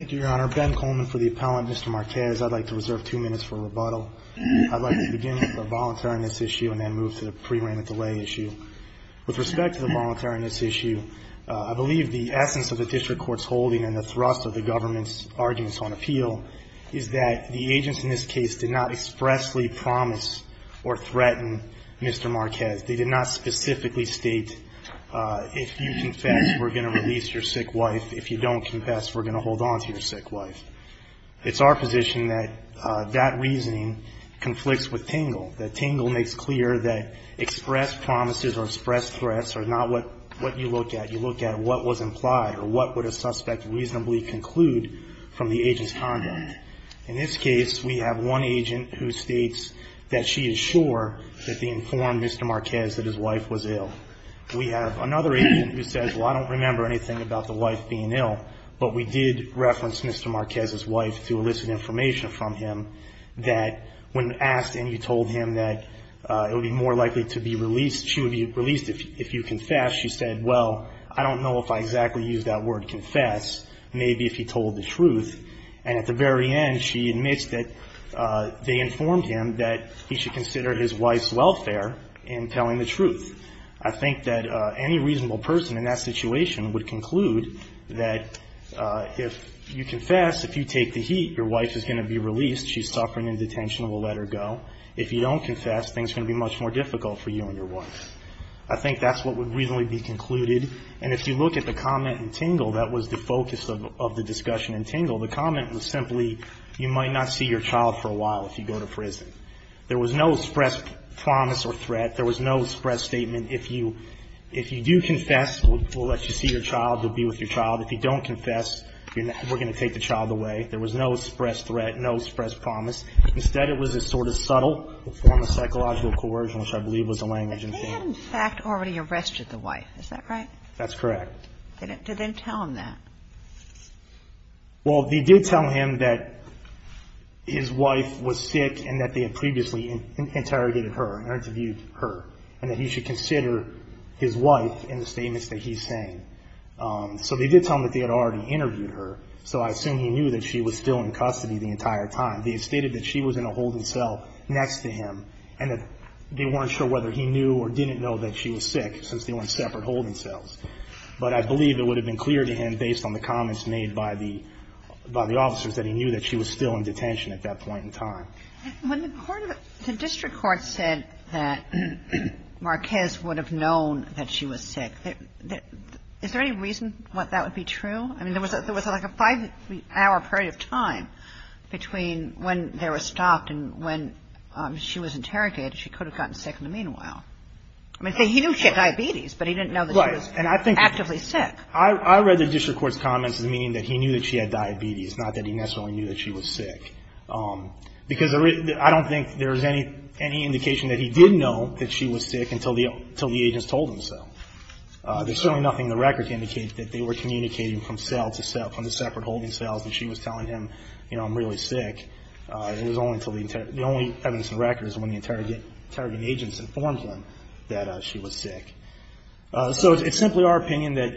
Thank you, Your Honor. Ben Coleman for the appellant. Mr. Marquez, I'd like to reserve two minutes for rebuttal. I'd like to begin with the voluntariness issue and then move to the pre-remit delay issue. With respect to the voluntariness issue, I believe the essence of the district court's holding and the thrust of the government's arguments on appeal is that the agents in this case did not expressly promise or threaten Mr. Marquez. They did not specifically state, if you confess, we're going to release your sick wife. If you don't confess, we're going to hold on to your sick wife. It's our position that that reasoning conflicts with Tangle. That Tangle makes clear that expressed promises or expressed threats are not what you looked at. You looked at what was implied or what would a suspect reasonably conclude from the agent's conduct. In this case, we have one agent who states that she is sure that they informed Mr. Marquez that his wife was ill. We have another agent who says, well, I don't remember anything about the wife being ill, but we did reference Mr. Marquez's wife to elicit information from him that when asked and you told him that it would be more likely to be released, she would be released if you confessed. She said, well, I don't know if I exactly used that word confess. Maybe if he told the truth. And at the very end, she admits that they informed him that he should consider his wife's welfare in telling the truth. I think that any reasonable person in that situation would conclude that if you confess, if you take the heat, your wife is going to be released. She's suffering in detention. We'll let her go. If you don't confess, things are going to be much more difficult for you and your wife. I think that's what would reasonably be concluded. And if you look at the comment in Tingle, that was the focus of the discussion in Tingle. The comment was simply, you might not see your child for a while if you go to prison. There was no express promise or threat. There was no express statement, if you do confess, we'll let you see your child, we'll be with your child. If you don't confess, we're going to take the child away. There was no express threat, no express promise. Instead, it was a sort of subtle form of psychological coercion, which I believe was the language in Tingle. He had, in fact, already arrested the wife. Is that right? That's correct. Did they tell him that? Well, they did tell him that his wife was sick and that they had previously interrogated her and interviewed her, and that he should consider his wife in the statements that he's saying. So they did tell him that they had already interviewed her, so I assume he knew that she was still in custody the entire time. They had stated that she was in a holding cell next to him, and that they weren't sure whether he knew or didn't know that she was sick, since they were in separate holding cells. But I believe it would have been clear to him, based on the comments made by the officers, that he knew that she was still in detention at that point in time. When the court of the district court said that Marquez would have known that she was sick, is there any reason that that would be true? I mean, there was like a five-hour period of time between when they were stopped and when she was interrogated. She could have gotten sick in the meanwhile. I mean, he knew she had diabetes, but he didn't know that she was actively sick. I read the district court's comments as meaning that he knew that she had diabetes, not that he necessarily knew that she was sick. Because I don't think there's any indication that he did know that she was sick until the agents told him so. There's certainly nothing in the record to indicate that they were communicating from cell to cell, from the separate holding cells, that she was telling him, you know, I'm really sick. It was only until the only evidence in the record is when the interrogating agents informed him that she was sick. So it's simply our opinion that,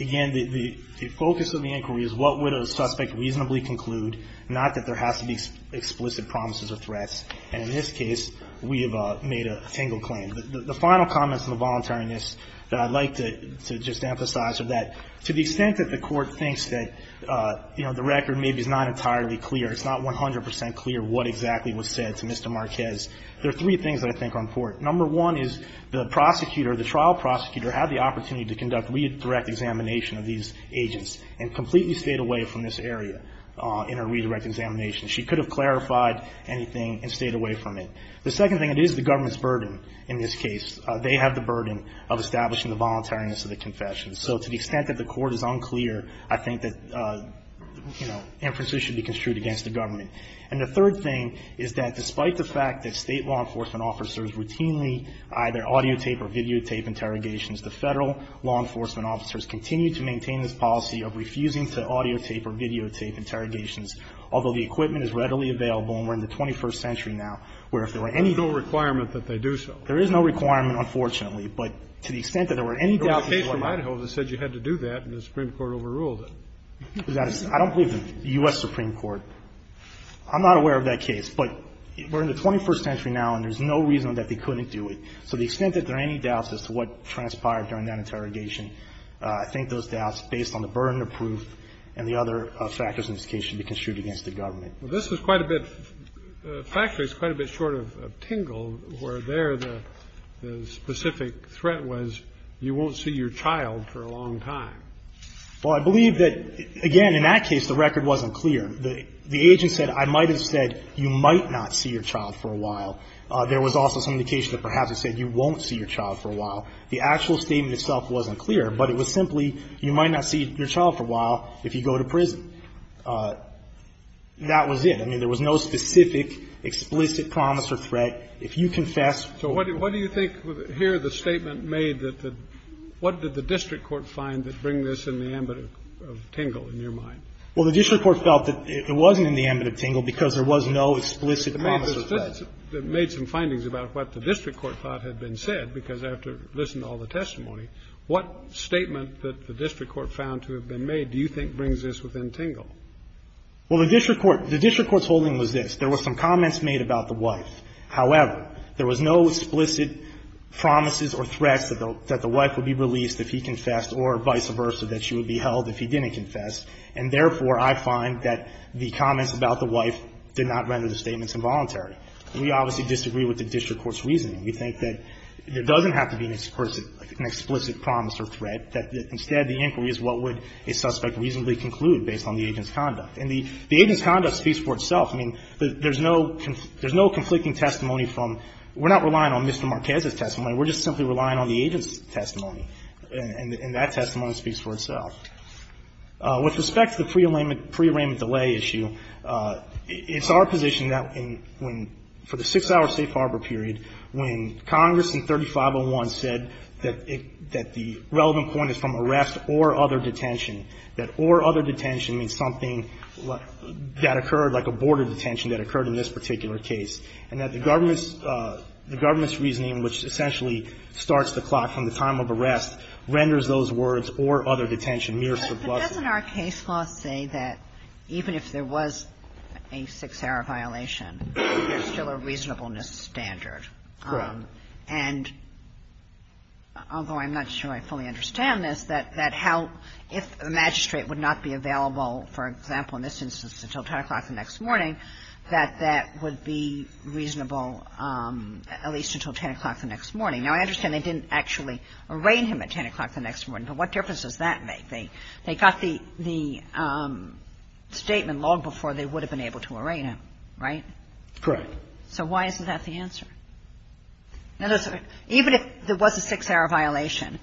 again, the focus of the inquiry is what would a suspect reasonably conclude, not that there has to be explicit promises or threats. And in this case, we have made a single claim. The final comments on the voluntariness that I'd like to just emphasize are that to the extent that the court thinks that, you know, the record maybe is not entirely clear, it's not 100 percent clear what exactly was said to Mr. Marquez, there are three things that I think are important. Number one is the prosecutor, the trial prosecutor, had the opportunity to conduct redirect examination of these agents and completely stayed away from this area in her redirect examination. She could have clarified anything and stayed away from it. The second thing, it is the government's burden in this case. They have the burden of establishing the voluntariness of the confession. So to the extent that the court is unclear, I think that, you know, emphasis should be construed against the government. And the third thing is that despite the fact that state law enforcement officers routinely either audio tape or videotape interrogations, the federal law enforcement officers continue to maintain this policy of refusing to audio tape or videotape interrogations, although the equipment is readily available and we're in the 21st century now, where if there were any doubts. Kennedy. There's no requirement that they do so. Marquez. There is no requirement, unfortunately, but to the extent that there were any doubts. Kennedy. There was a case in Idaho that said you had to do that, and the Supreme Court overruled it. Marquez. I don't believe the U.S. Supreme Court. I'm not aware of that case, but we're in the 21st century now, and there's no reason that they couldn't do it. So to the extent that there are any doubts as to what transpired during that interrogation, I think those doubts, based on the burden of proof and the other factors in this case, should be construed against the government. Kennedy. Well, this is quite a bit, factually, it's quite a bit short of Tingle, where there the specific threat was you won't see your child for a long time. Marquez. Well, I believe that, again, in that case, the record wasn't clear. The agent said, I might have said you might not see your child for a while. There was also some indication that perhaps it said you won't see your child for a while. The actual statement itself wasn't clear, but it was simply, you might not see your child for a while if you go to prison. That was it. I mean, there was no specific, explicit promise or threat. If you confess. Kennedy. So what do you think, here, the statement made that the what did the district court find that bring this in the ambit of Tingle, in your mind? Marquez. Well, the district court felt that it wasn't in the ambit of Tingle because there was no explicit promise or threat. Well, I made some findings about what the district court thought had been said, because after listening to all the testimony, what statement that the district court found to have been made do you think brings this within Tingle? Marquez. Well, the district court's holding was this. There were some comments made about the wife. However, there was no explicit promises or threats that the wife would be released if he confessed or vice versa, that she would be held if he didn't confess. And therefore, I find that the comments about the wife did not render the statements involuntary. We obviously disagree with the district court's reasoning. We think that there doesn't have to be an explicit promise or threat. That instead, the inquiry is what would a suspect reasonably conclude based on the agent's conduct. And the agent's conduct speaks for itself. I mean, there's no conflicting testimony from we're not relying on Mr. Marquez's testimony. We're just simply relying on the agent's testimony. And that testimony speaks for itself. With respect to the pre-arraignment delay issue, it's our position that for the six-hour safe harbor period, when Congress in 3501 said that the relevant point is from arrest or other detention, that or other detention means something that occurred, like a border detention that occurred in this particular case, and that the government's reasoning, which essentially starts the clock from the time of arrest, renders those words or other detention mere subversion. But doesn't our case law say that even if there was a six-hour violation, there's still a reasonableness standard? And although I'm not sure I fully understand this, that how the magistrate would not be available, for example, in this instance, until 10 o'clock the next morning, that that would be reasonable at least until 10 o'clock the next morning. Now, I understand they didn't actually arraign him at 10 o'clock the next morning, but what difference does that make? They got the statement long before they would have been able to arraign him, right? Correct. So why isn't that the answer? Even if there was a six-hour violation,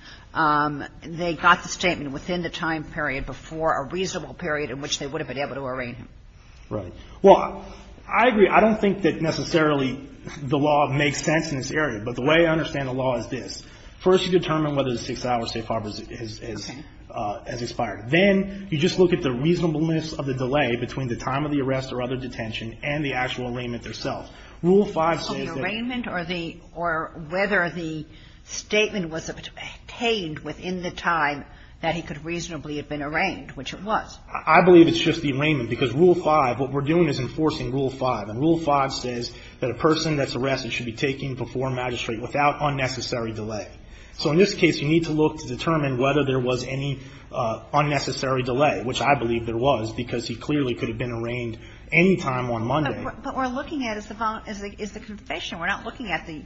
they got the statement within the time period before a reasonable period in which they would have been able to arraign him. Right. Well, I agree. I don't think that necessarily the law makes sense in this area. But the way I understand the law is this. First, you determine whether the six-hour safe harbor has expired. Then you just look at the reasonableness of the delay between the time of the arrest or other detention and the actual arraignment itself. Rule 5 says that the arraignment or the or whether the statement was obtained within the time that he could reasonably have been arraigned, which it was. I believe it's just the arraignment, because Rule 5, what we're doing is enforcing Rule 5. And Rule 5 says that a person that's arrested should be taken before magistrate without unnecessary delay. So in this case, you need to look to determine whether there was any unnecessary delay, which I believe there was, because he clearly could have been arraigned any time on Monday. But what we're looking at is the confession. We're not looking at the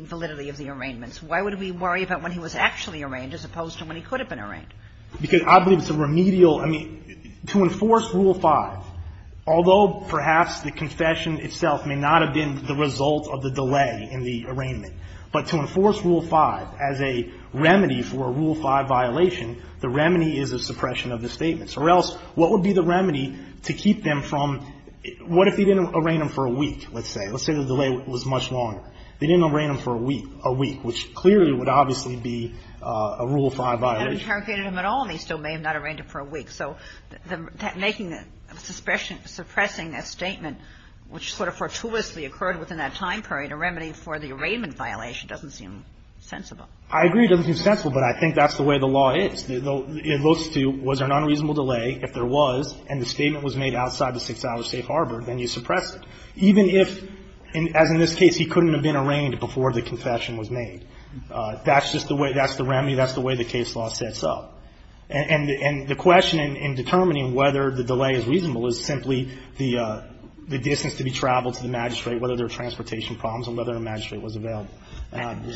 validity of the arraignments. Why would we worry about when he was actually arraigned as opposed to when he could have been arraigned? Because I believe it's a remedial. I mean, to enforce Rule 5, although perhaps the confession itself may not have been the result of the delay in the arraignment, but to enforce Rule 5 as a remedy for a Rule 5 violation, the remedy is a suppression of the statements. Or else, what would be the remedy to keep them from what if he didn't arraign them for a week, let's say? Let's say the delay was much longer. They didn't arraign them for a week, which clearly would obviously be a Rule 5 violation. And if he hadn't interrogated him at all, then he still may have not arraigned him for a week. So that making a suppression, suppressing a statement, which sort of fortuitously occurred within that time period, a remedy for the arraignment violation doesn't seem sensible. I agree it doesn't seem sensible, but I think that's the way the law is. It goes to was there an unreasonable delay? If there was and the statement was made outside the 6-hour safe harbor, then you suppress it. Even if, as in this case, he couldn't have been arraigned before the confession was made. That's just the way the remedy. That's the way the case law sets up. And the question in determining whether the delay is reasonable is simply the distance to be traveled to the magistrate, whether there were transportation problems, and whether a magistrate was available. Thank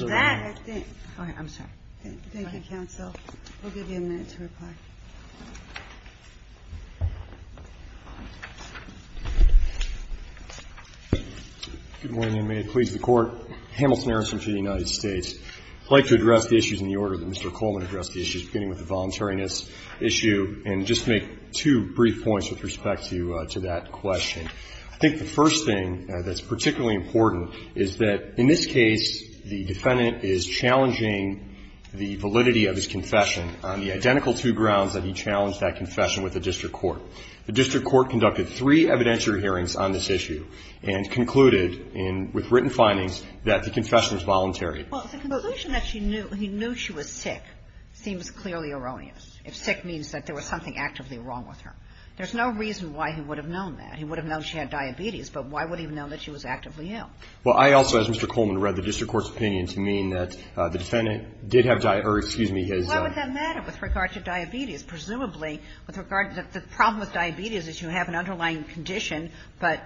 you, counsel. We'll give you a minute to reply. Good morning. May it please the Court. Hamilton Harrison for the United States. I'd like to address the issues in the order that Mr. Coleman addressed the issues beginning with the voluntariness issue and just make two brief points with respect to that question. I think the first thing that's particularly important is that in this case, the defendant is challenging the validity of his confession on the identical two grounds that he challenged that confession with the district court. The district court conducted three evidentiary hearings on this issue and concluded in the written findings that the confession was voluntary. Well, the conclusion that he knew she was sick seems clearly erroneous. If sick means that there was something actively wrong with her. There's no reason why he would have known that. He would have known she had diabetes, but why would he have known that she was actively ill? Well, I also, as Mr. Coleman read the district court's opinion, to mean that the defendant did have diabetes or, excuse me, his own. Why would that matter with regard to diabetes? Presumably, with regard to the problem with diabetes is you have an underlying condition, but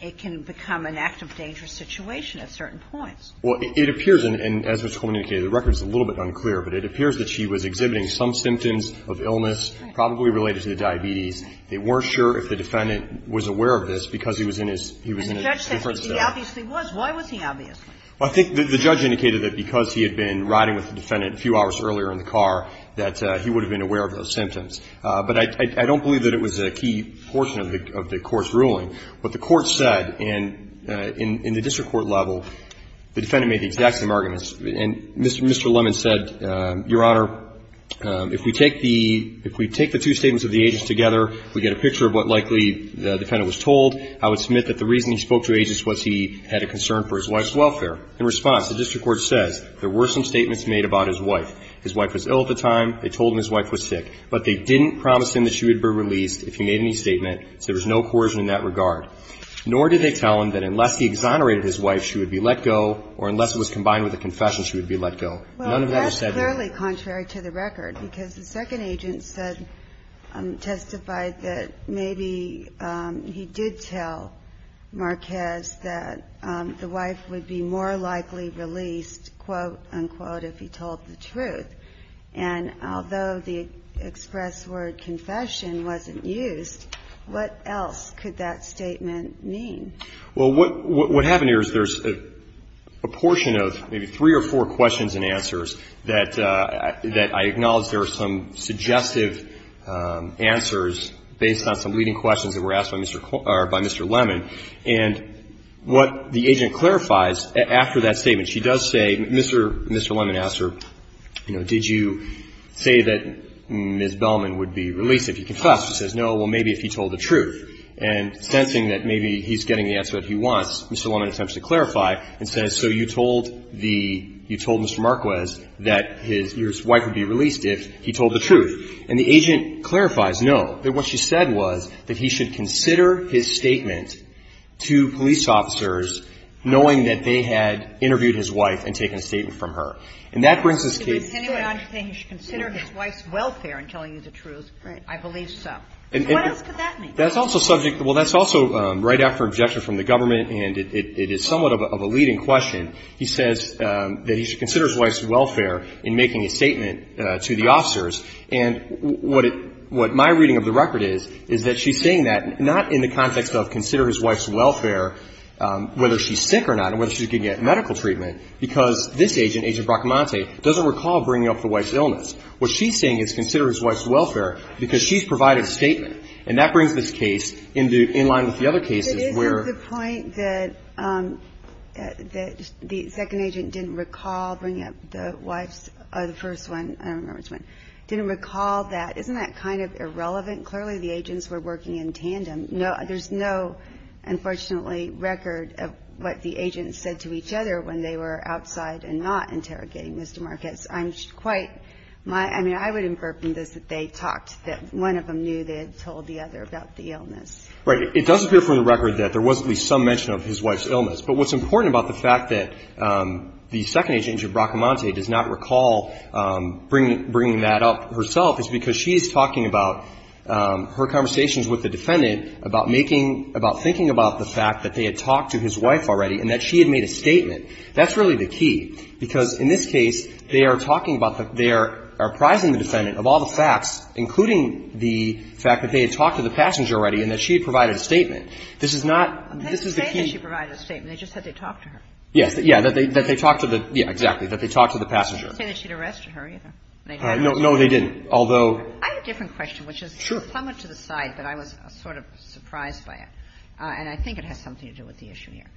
it can become an act of dangerous situation at certain points. Well, it appears, and as Mr. Coleman indicated, the record is a little bit unclear, but it appears that she was exhibiting some symptoms of illness probably related to the diabetes. They weren't sure if the defendant was aware of this because he was in his own different state. The judge said he obviously was. Why was he obviously? Well, I think the judge indicated that because he had been riding with the defendant a few hours earlier in the car, that he would have been aware of those symptoms. But I don't believe that it was a key portion of the Court's ruling. What the Court said in the district court level, the defendant made the exact same arguments. And Mr. Lemon said, Your Honor, if we take the two statements of the agent together, we get a picture of what likely the defendant was told. I would submit that the reason he spoke to agents was he had a concern for his wife's welfare. In response, the district court says there were some statements made about his wife. His wife was ill at the time. They told him his wife was sick. But they didn't promise him that she would be released if he made any statement. So there was no coercion in that regard. Nor did they tell him that unless he exonerated his wife, she would be let go, or unless it was combined with a confession, she would be let go. None of that is said here. Well, that's clearly contrary to the record, because the second agent said, testified that maybe he did tell Marquez that the wife would be more likely released, quote, unquote, if he told the truth. And although the express word confession wasn't used, what else could that statement mean? Well, what happened here is there's a portion of maybe three or four questions and answers that I acknowledge there are some suggestive answers based on some leading questions that were asked by Mr. Lemon. And what the agent clarifies after that statement, she does say Mr. Lemon asked her, you know, did you say that Ms. Bellman would be released if he confessed? She says, no, well, maybe if he told the truth. And sensing that maybe he's getting the answer that he wants, Mr. Lemon attempts to clarify and says, so you told Mr. Marquez that his wife would be released if he told the truth. And the agent clarifies, no, that what she said was that he should consider his statement to police officers knowing that they had interviewed his wife and taken a statement from her. And that brings us to the next question. He should consider his wife's welfare in telling you the truth. I believe so. And what else could that mean? That's also subject to, well, that's also right after objection from the government and it is somewhat of a leading question. He says that he should consider his wife's welfare in making a statement to the officers. And what it, what my reading of the record is, is that she's saying that not in the context of consider his wife's welfare, whether she's sick or not, and whether she doesn't recall bringing up the wife's illness. What she's saying is consider his wife's welfare because she's provided a statement. And that brings this case in the, in line with the other cases where. But isn't the point that the second agent didn't recall bringing up the wife's, the first one, I don't remember which one, didn't recall that, isn't that kind of irrelevant? Clearly the agents were working in tandem. There's no, unfortunately, record of what the agents said to each other when they were outside and not interrogating Mr. Marquez. I'm quite, my, I mean, I would infer from this that they talked, that one of them knew they had told the other about the illness. Right. It does appear from the record that there was at least some mention of his wife's illness. But what's important about the fact that the second agent, Ginger Bracamonte, does not recall bringing, bringing that up herself is because she's talking about her conversations with the defendant about making, about thinking about the fact that they had talked to his wife already and that she had made a statement. That's really the key, because in this case, they are talking about the, they are apprising the defendant of all the facts, including the fact that they had talked to the passenger already and that she had provided a statement. This is not, this is the key. They didn't say that she provided a statement. They just said they talked to her. Yes. Yeah, that they, that they talked to the, yeah, exactly, that they talked to the passenger. They didn't say that she'd arrested her either. No, no, they didn't, although. I have a different question, which is somewhat to the side, but I was sort of surprised by it. And I think it has something to do with the issue here.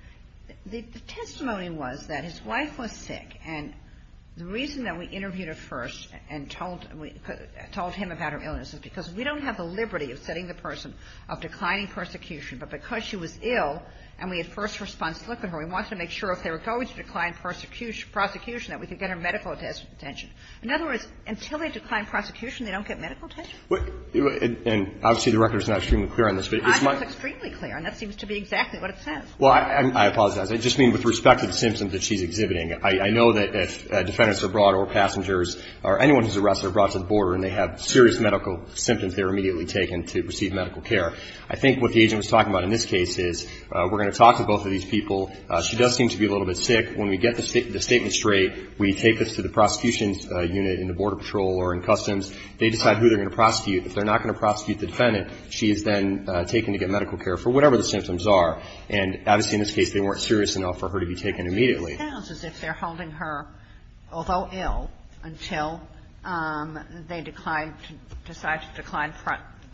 The testimony was that his wife was sick. And the reason that we interviewed her first and told, we told him about her illness is because we don't have the liberty of setting the person of declining persecution. But because she was ill and we had first response to look at her, we wanted to make sure if they were going to decline persecution, prosecution, that we could get her medical attention. In other words, until they decline prosecution, they don't get medical attention. And obviously, the record is not extremely clear on this, but it's my. It's extremely clear, and that seems to be exactly what it says. Well, I apologize. I just mean with respect to the symptoms that she's exhibiting. I know that if defendants are brought or passengers or anyone who's arrested are brought to the border and they have serious medical symptoms, they're immediately taken to receive medical care. I think what the agent was talking about in this case is we're going to talk to both of these people. She does seem to be a little bit sick. When we get the statement straight, we take this to the prosecution's unit in the Border Patrol or in Customs. They decide who they're going to prosecute. If they're not going to prosecute the defendant, she is then taken to get medical care for whatever the symptoms are. And obviously, in this case, they weren't serious enough for her to be taken immediately. It sounds as if they're holding her, although ill, until they decline to decide to decline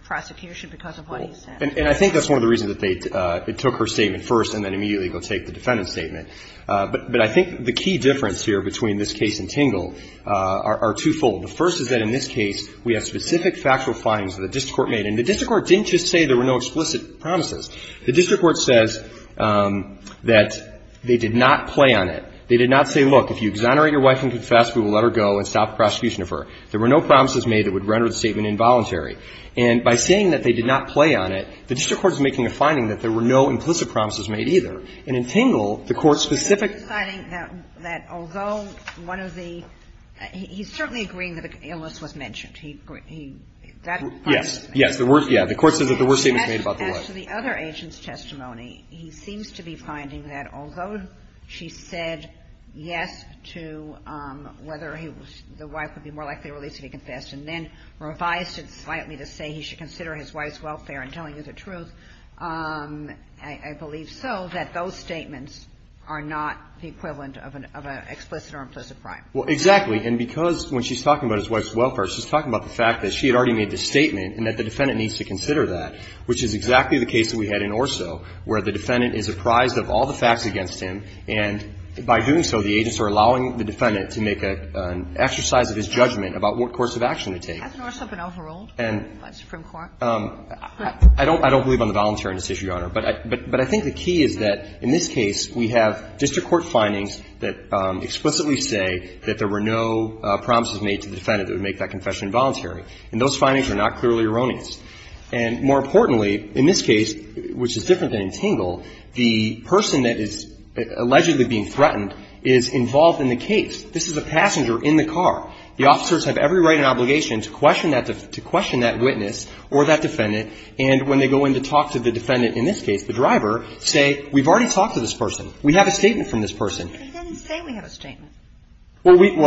prosecution because of what he said. And I think that's one of the reasons that they took her statement first and then immediately go take the defendant's statement. But I think the key difference here between this case and Tingle are twofold. The first is that in this case, we have specific factual findings that the district court made. And the district court didn't just say there were no explicit promises. The district court says that they did not play on it. They did not say, look, if you exonerate your wife and confess, we will let her go and stop the prosecution of her. There were no promises made that would render the statement involuntary. And by saying that they did not play on it, the district court is making a finding that there were no implicit promises made either. And in Tingle, the court's specific --- You're deciding that although one of the – he's certainly agreeing that an illness was mentioned. He – that part of the statement. Yes. Yes. The court says that there were statements made about the wife. As to the other agent's testimony, he seems to be finding that although she said yes to whether he was – the wife would be more likely to be released if he confessed and then revised it slightly to say he should consider his wife's welfare in telling you the truth, I believe so, that those statements are not the equivalent of an – of an explicit or implicit crime. Well, exactly. And because when she's talking about his wife's welfare, she's talking about the fact that she had already made the statement and that the defendant needs to consider that, which is exactly the case that we had in Orso where the defendant is apprised of all the facts against him, and by doing so, the agents are allowing the defendant to make an exercise of his judgment about what course of action to take. Hasn't Orso been overruled by the Supreme Court? I don't believe on the voluntary indecision, Your Honor. But I think the key is that in this case, we have district court findings that explicitly say that there were no promises made to the defendant that would make that confession voluntary. And those findings are not clearly erroneous. And more importantly, in this case, which is different than in Tingle, the person that is allegedly being threatened is involved in the case. This is a passenger in the car. The officers have every right and obligation to question that – to question that witness or that defendant. And when they go in to talk to the defendant in this case, the driver, say, we've already talked to this person. We have a statement from this person. He didn't say we have a statement. Well, we –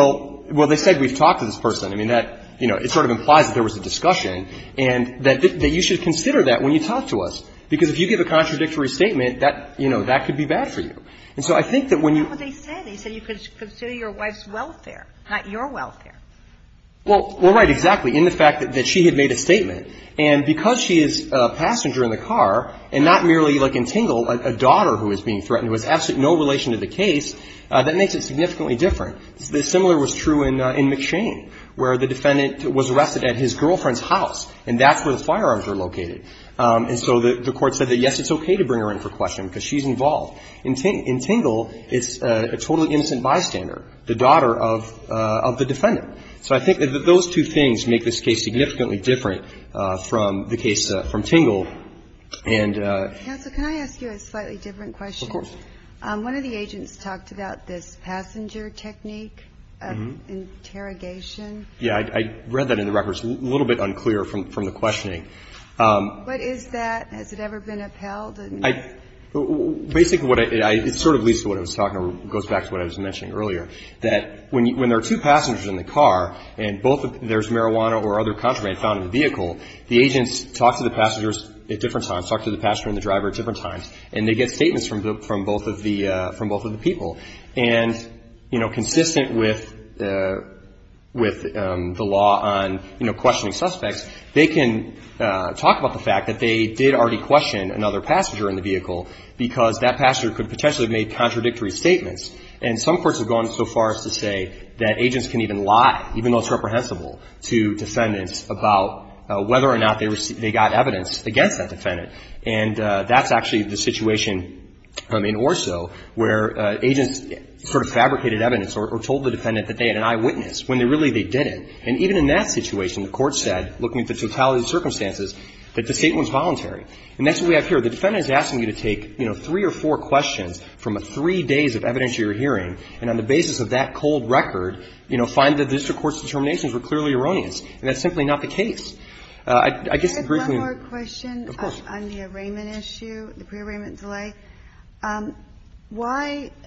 well, they said we've talked to this person. I mean, that – you know, it sort of implies that there was a discussion. And that you should consider that when you talk to us, because if you give a contradictory statement, that – you know, that could be bad for you. And so I think that when you – But that's not what they said. They said you could consider your wife's welfare, not your welfare. Well, you're right, exactly, in the fact that she had made a statement. And because she is a passenger in the car, and not merely, like in Tingle, a daughter who is being threatened, who has absolutely no relation to the case, that makes it significantly different. The similar was true in McShane, where the defendant was arrested at his girlfriend's house, and that's where the firearms are located. And so the court said that, yes, it's okay to bring her in for questioning, because she's involved. In Tingle, it's a totally innocent bystander, the daughter of the defendant. So I think that those two things make this case significantly different from the case from Tingle. And – Counsel, can I ask you a slightly different question? Of course. One of the agents talked about this passenger technique of interrogation. Yeah, I read that in the records. It's a little bit unclear from the questioning. But is that – has it ever been upheld? I – basically, what I – it sort of leads to what I was talking about, or goes back to what I was mentioning earlier, that when there are two passengers in the car, and both – there's marijuana or other contraband found in the vehicle, the agents talk to the passengers at different times, talk to the passenger and the driver at different times, and they get statements from both of the – from both of the people. And, you know, consistent with – with the law on, you know, questioning suspects, they can talk about the fact that they did already question another passenger in the vehicle because that passenger could potentially have made contradictory statements. And some courts have gone so far as to say that agents can even lie, even though it's reprehensible, to defendants about whether or not they received – they got evidence against that defendant. And that's actually the situation in Orso where agents sort of fabricated evidence or told the defendant that they had an eyewitness when they really – they didn't. And even in that situation, the court said, looking at the totality of the circumstances, that the statement was voluntary. And that's what we have here. The defendant is asking you to take, you know, three or four questions from three days of evidence you're hearing, and on the basis of that cold record, you know, find that the district court's determinations were clearly erroneous. And that's simply not the case. I – I guess the briefing – The briefing on the arraignment issue, the pre-arraignment delay, why –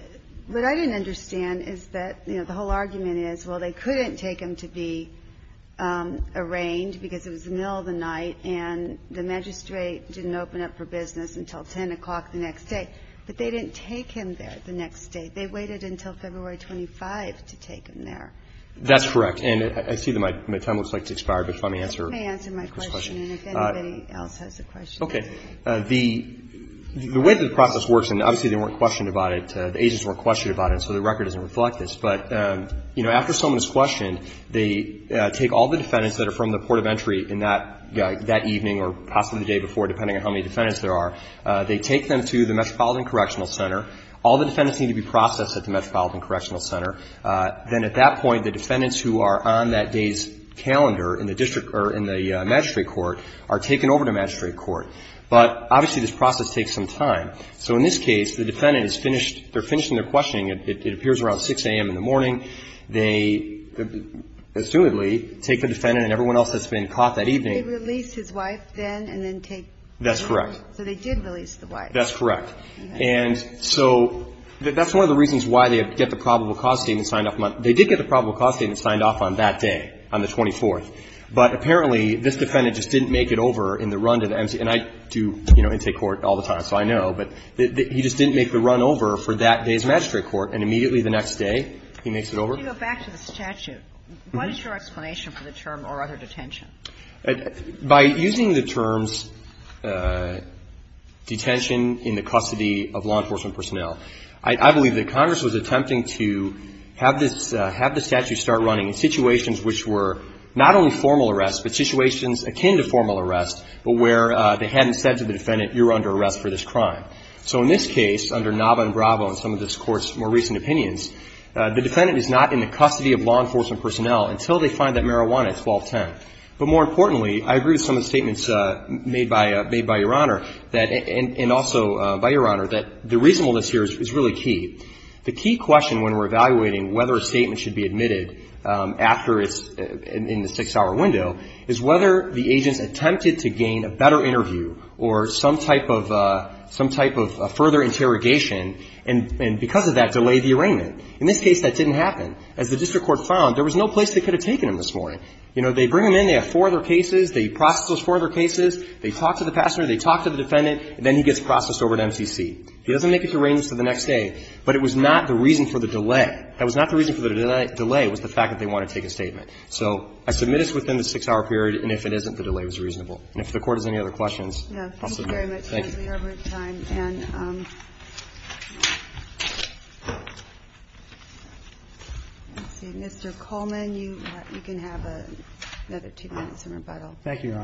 what I didn't understand is that, you know, the whole argument is, well, they couldn't take him to be arraigned because it was the middle of the night, and the magistrate didn't open up for business until 10 o'clock the next day. But they didn't take him there the next day. They waited until February 25 to take him there. That's correct. And I see that my time looks like it's expired, but let me answer Chris's question. Let me answer my question, and if anybody else has a question. Okay. The – the way the process works, and obviously they weren't questioned about it, the agents weren't questioned about it, so the record doesn't reflect this, but, you know, after someone is questioned, they take all the defendants that are from the port of entry in that – that evening or possibly the day before, depending on how many defendants there are, they take them to the Metropolitan Correctional Center. All the defendants need to be processed at the Metropolitan Correctional Center. Then at that point, the defendants who are on that day's calendar in the district – or in the magistrate court are taken over to magistrate court. But obviously, this process takes some time. So in this case, the defendant is finished – they're finishing their questioning. It appears around 6 a.m. in the morning. They, assumedly, take the defendant and everyone else that's been caught that evening. They release his wife then and then take – That's correct. So they did release the wife. That's correct. And so that's one of the reasons why they get the probable cause statement signed off – they did get the probable cause statement signed off on that day, on the 24th. But apparently, this defendant just didn't make it over in the run to the MC – and I do, you know, intake court all the time, so I know. But he just didn't make the run over for that day's magistrate court. And immediately the next day, he makes it over. If you go back to the statute, what is your explanation for the term, or other detention? By using the terms detention in the custody of law enforcement personnel, I believe that Congress was attempting to have this – have the statute start running in situations which were not only formal arrests, but situations akin to formal arrests, but where they hadn't said to the defendant, you're under arrest for this crime. So in this case, under Nava and Bravo and some of this Court's more recent opinions, the defendant is not in the custody of law enforcement personnel until they find that marijuana at 1210. But more importantly, I agree with some of the statements made by – made by Your Honor that – and also by Your Honor, that the reasonableness here is really key. The key question when we're evaluating whether a statement should be admitted after it's – in the six-hour window is whether the agents attempted to gain a better interview or some type of – some type of further interrogation, and because of that, delay the arraignment. In this case, that didn't happen. As the district court found, there was no place they could have taken him this morning. You know, they bring him in, they have four other cases, they process those four other cases, they talk to the passenger, they talk to the defendant, and then he gets processed over to MCC. He doesn't make it to arraignments until the next day, but it was not the reason for the delay. That was not the reason for the delay. It was the fact that they wanted to take a statement. So I submit it's within the six-hour period, and if it isn't, the delay was reasonable. And if the Court has any other questions, I'll submit them. Thank you. Thank you very much, Counselor Yarbrough. And Mr. Coleman, you can have another two minutes in rebuttal. Thank you, Your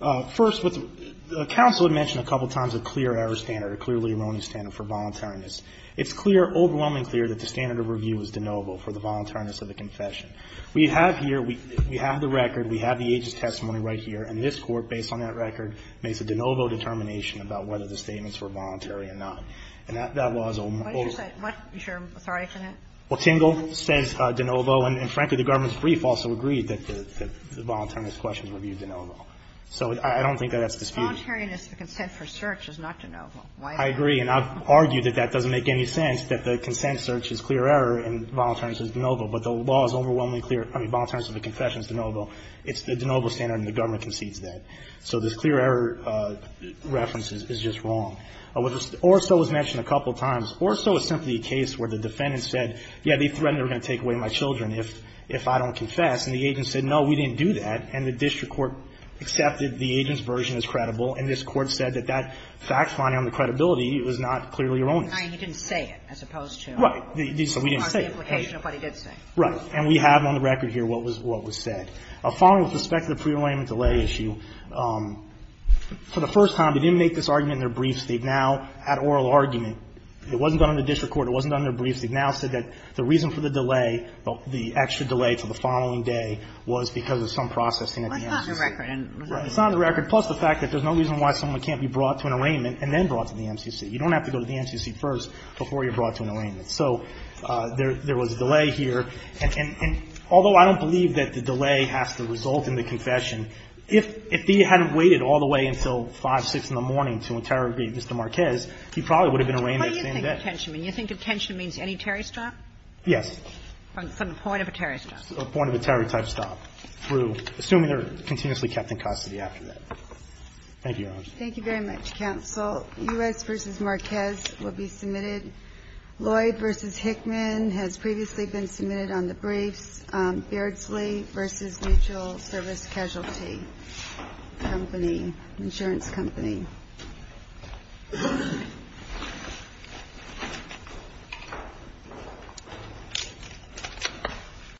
Honor. First, the counsel had mentioned a couple of times a clear error standard, a clear Lee-Roney standard for voluntariness. It's clear, overwhelmingly clear, that the standard of review is de novo for the voluntariness of the confession. We have here, we have the record, we have the aegis testimony right here, and this Court, based on that record, makes a de novo determination about whether the statements were voluntary or not. And that law is a little more of a question. What is your authority on that? Well, Tingle says de novo, and frankly, the government's brief also agreed that the voluntariness questions were viewed de novo. So I don't think that that's disputed. Voluntariness, the consent for search, is not de novo. Why is that? I agree, and I've argued that that doesn't make any sense, that the consent search is clear error, and voluntariness is de novo. But the law is overwhelmingly clear, I mean, voluntariness of the confession is de novo. It's the de novo standard, and the government concedes that. So this clear error reference is just wrong. Or so was mentioned a couple of times. Or so is simply a case where the defendant said, yeah, they threatened they were going to take away my children if I don't confess. And the agent said, no, we didn't do that. And the district court accepted the agent's version as credible, and this Court said that fact-finding on the credibility was not clearly erroneous. Kagan. He didn't say it, as opposed to the implication of what he did say. Right. And we have on the record here what was said. A follow-up with respect to the pre-alignment delay issue, for the first time, they didn't make this argument in their briefs. They've now, at oral argument, it wasn't done in the district court, it wasn't done in their briefs, they've now said that the reason for the delay, the extra delay to the following day, was because of some processing at the agency. It's not in the record. Right. It's not in the record, plus the fact that there's no reason why someone can't be brought to an arraignment and then brought to the MCC. You don't have to go to the MCC first before you're brought to an arraignment. So there was a delay here. And although I don't believe that the delay has to result in the confession, if he hadn't waited all the way until 5, 6 in the morning to interrogate Mr. Marquez, he probably would have been arraigned that same day. What do you think attention means? You think attention means any Terry stop? Yes. From the point of a Terry stop. From the point of a Terry type stop, through, assuming they're continuously kept in custody after that. Thank you, Your Honor. Thank you very much, counsel. U.S. v. Marquez will be submitted. Lloyd v. Hickman has previously been submitted on the briefs. Beardsley v. Mutual Service Casualty Company, insurance company.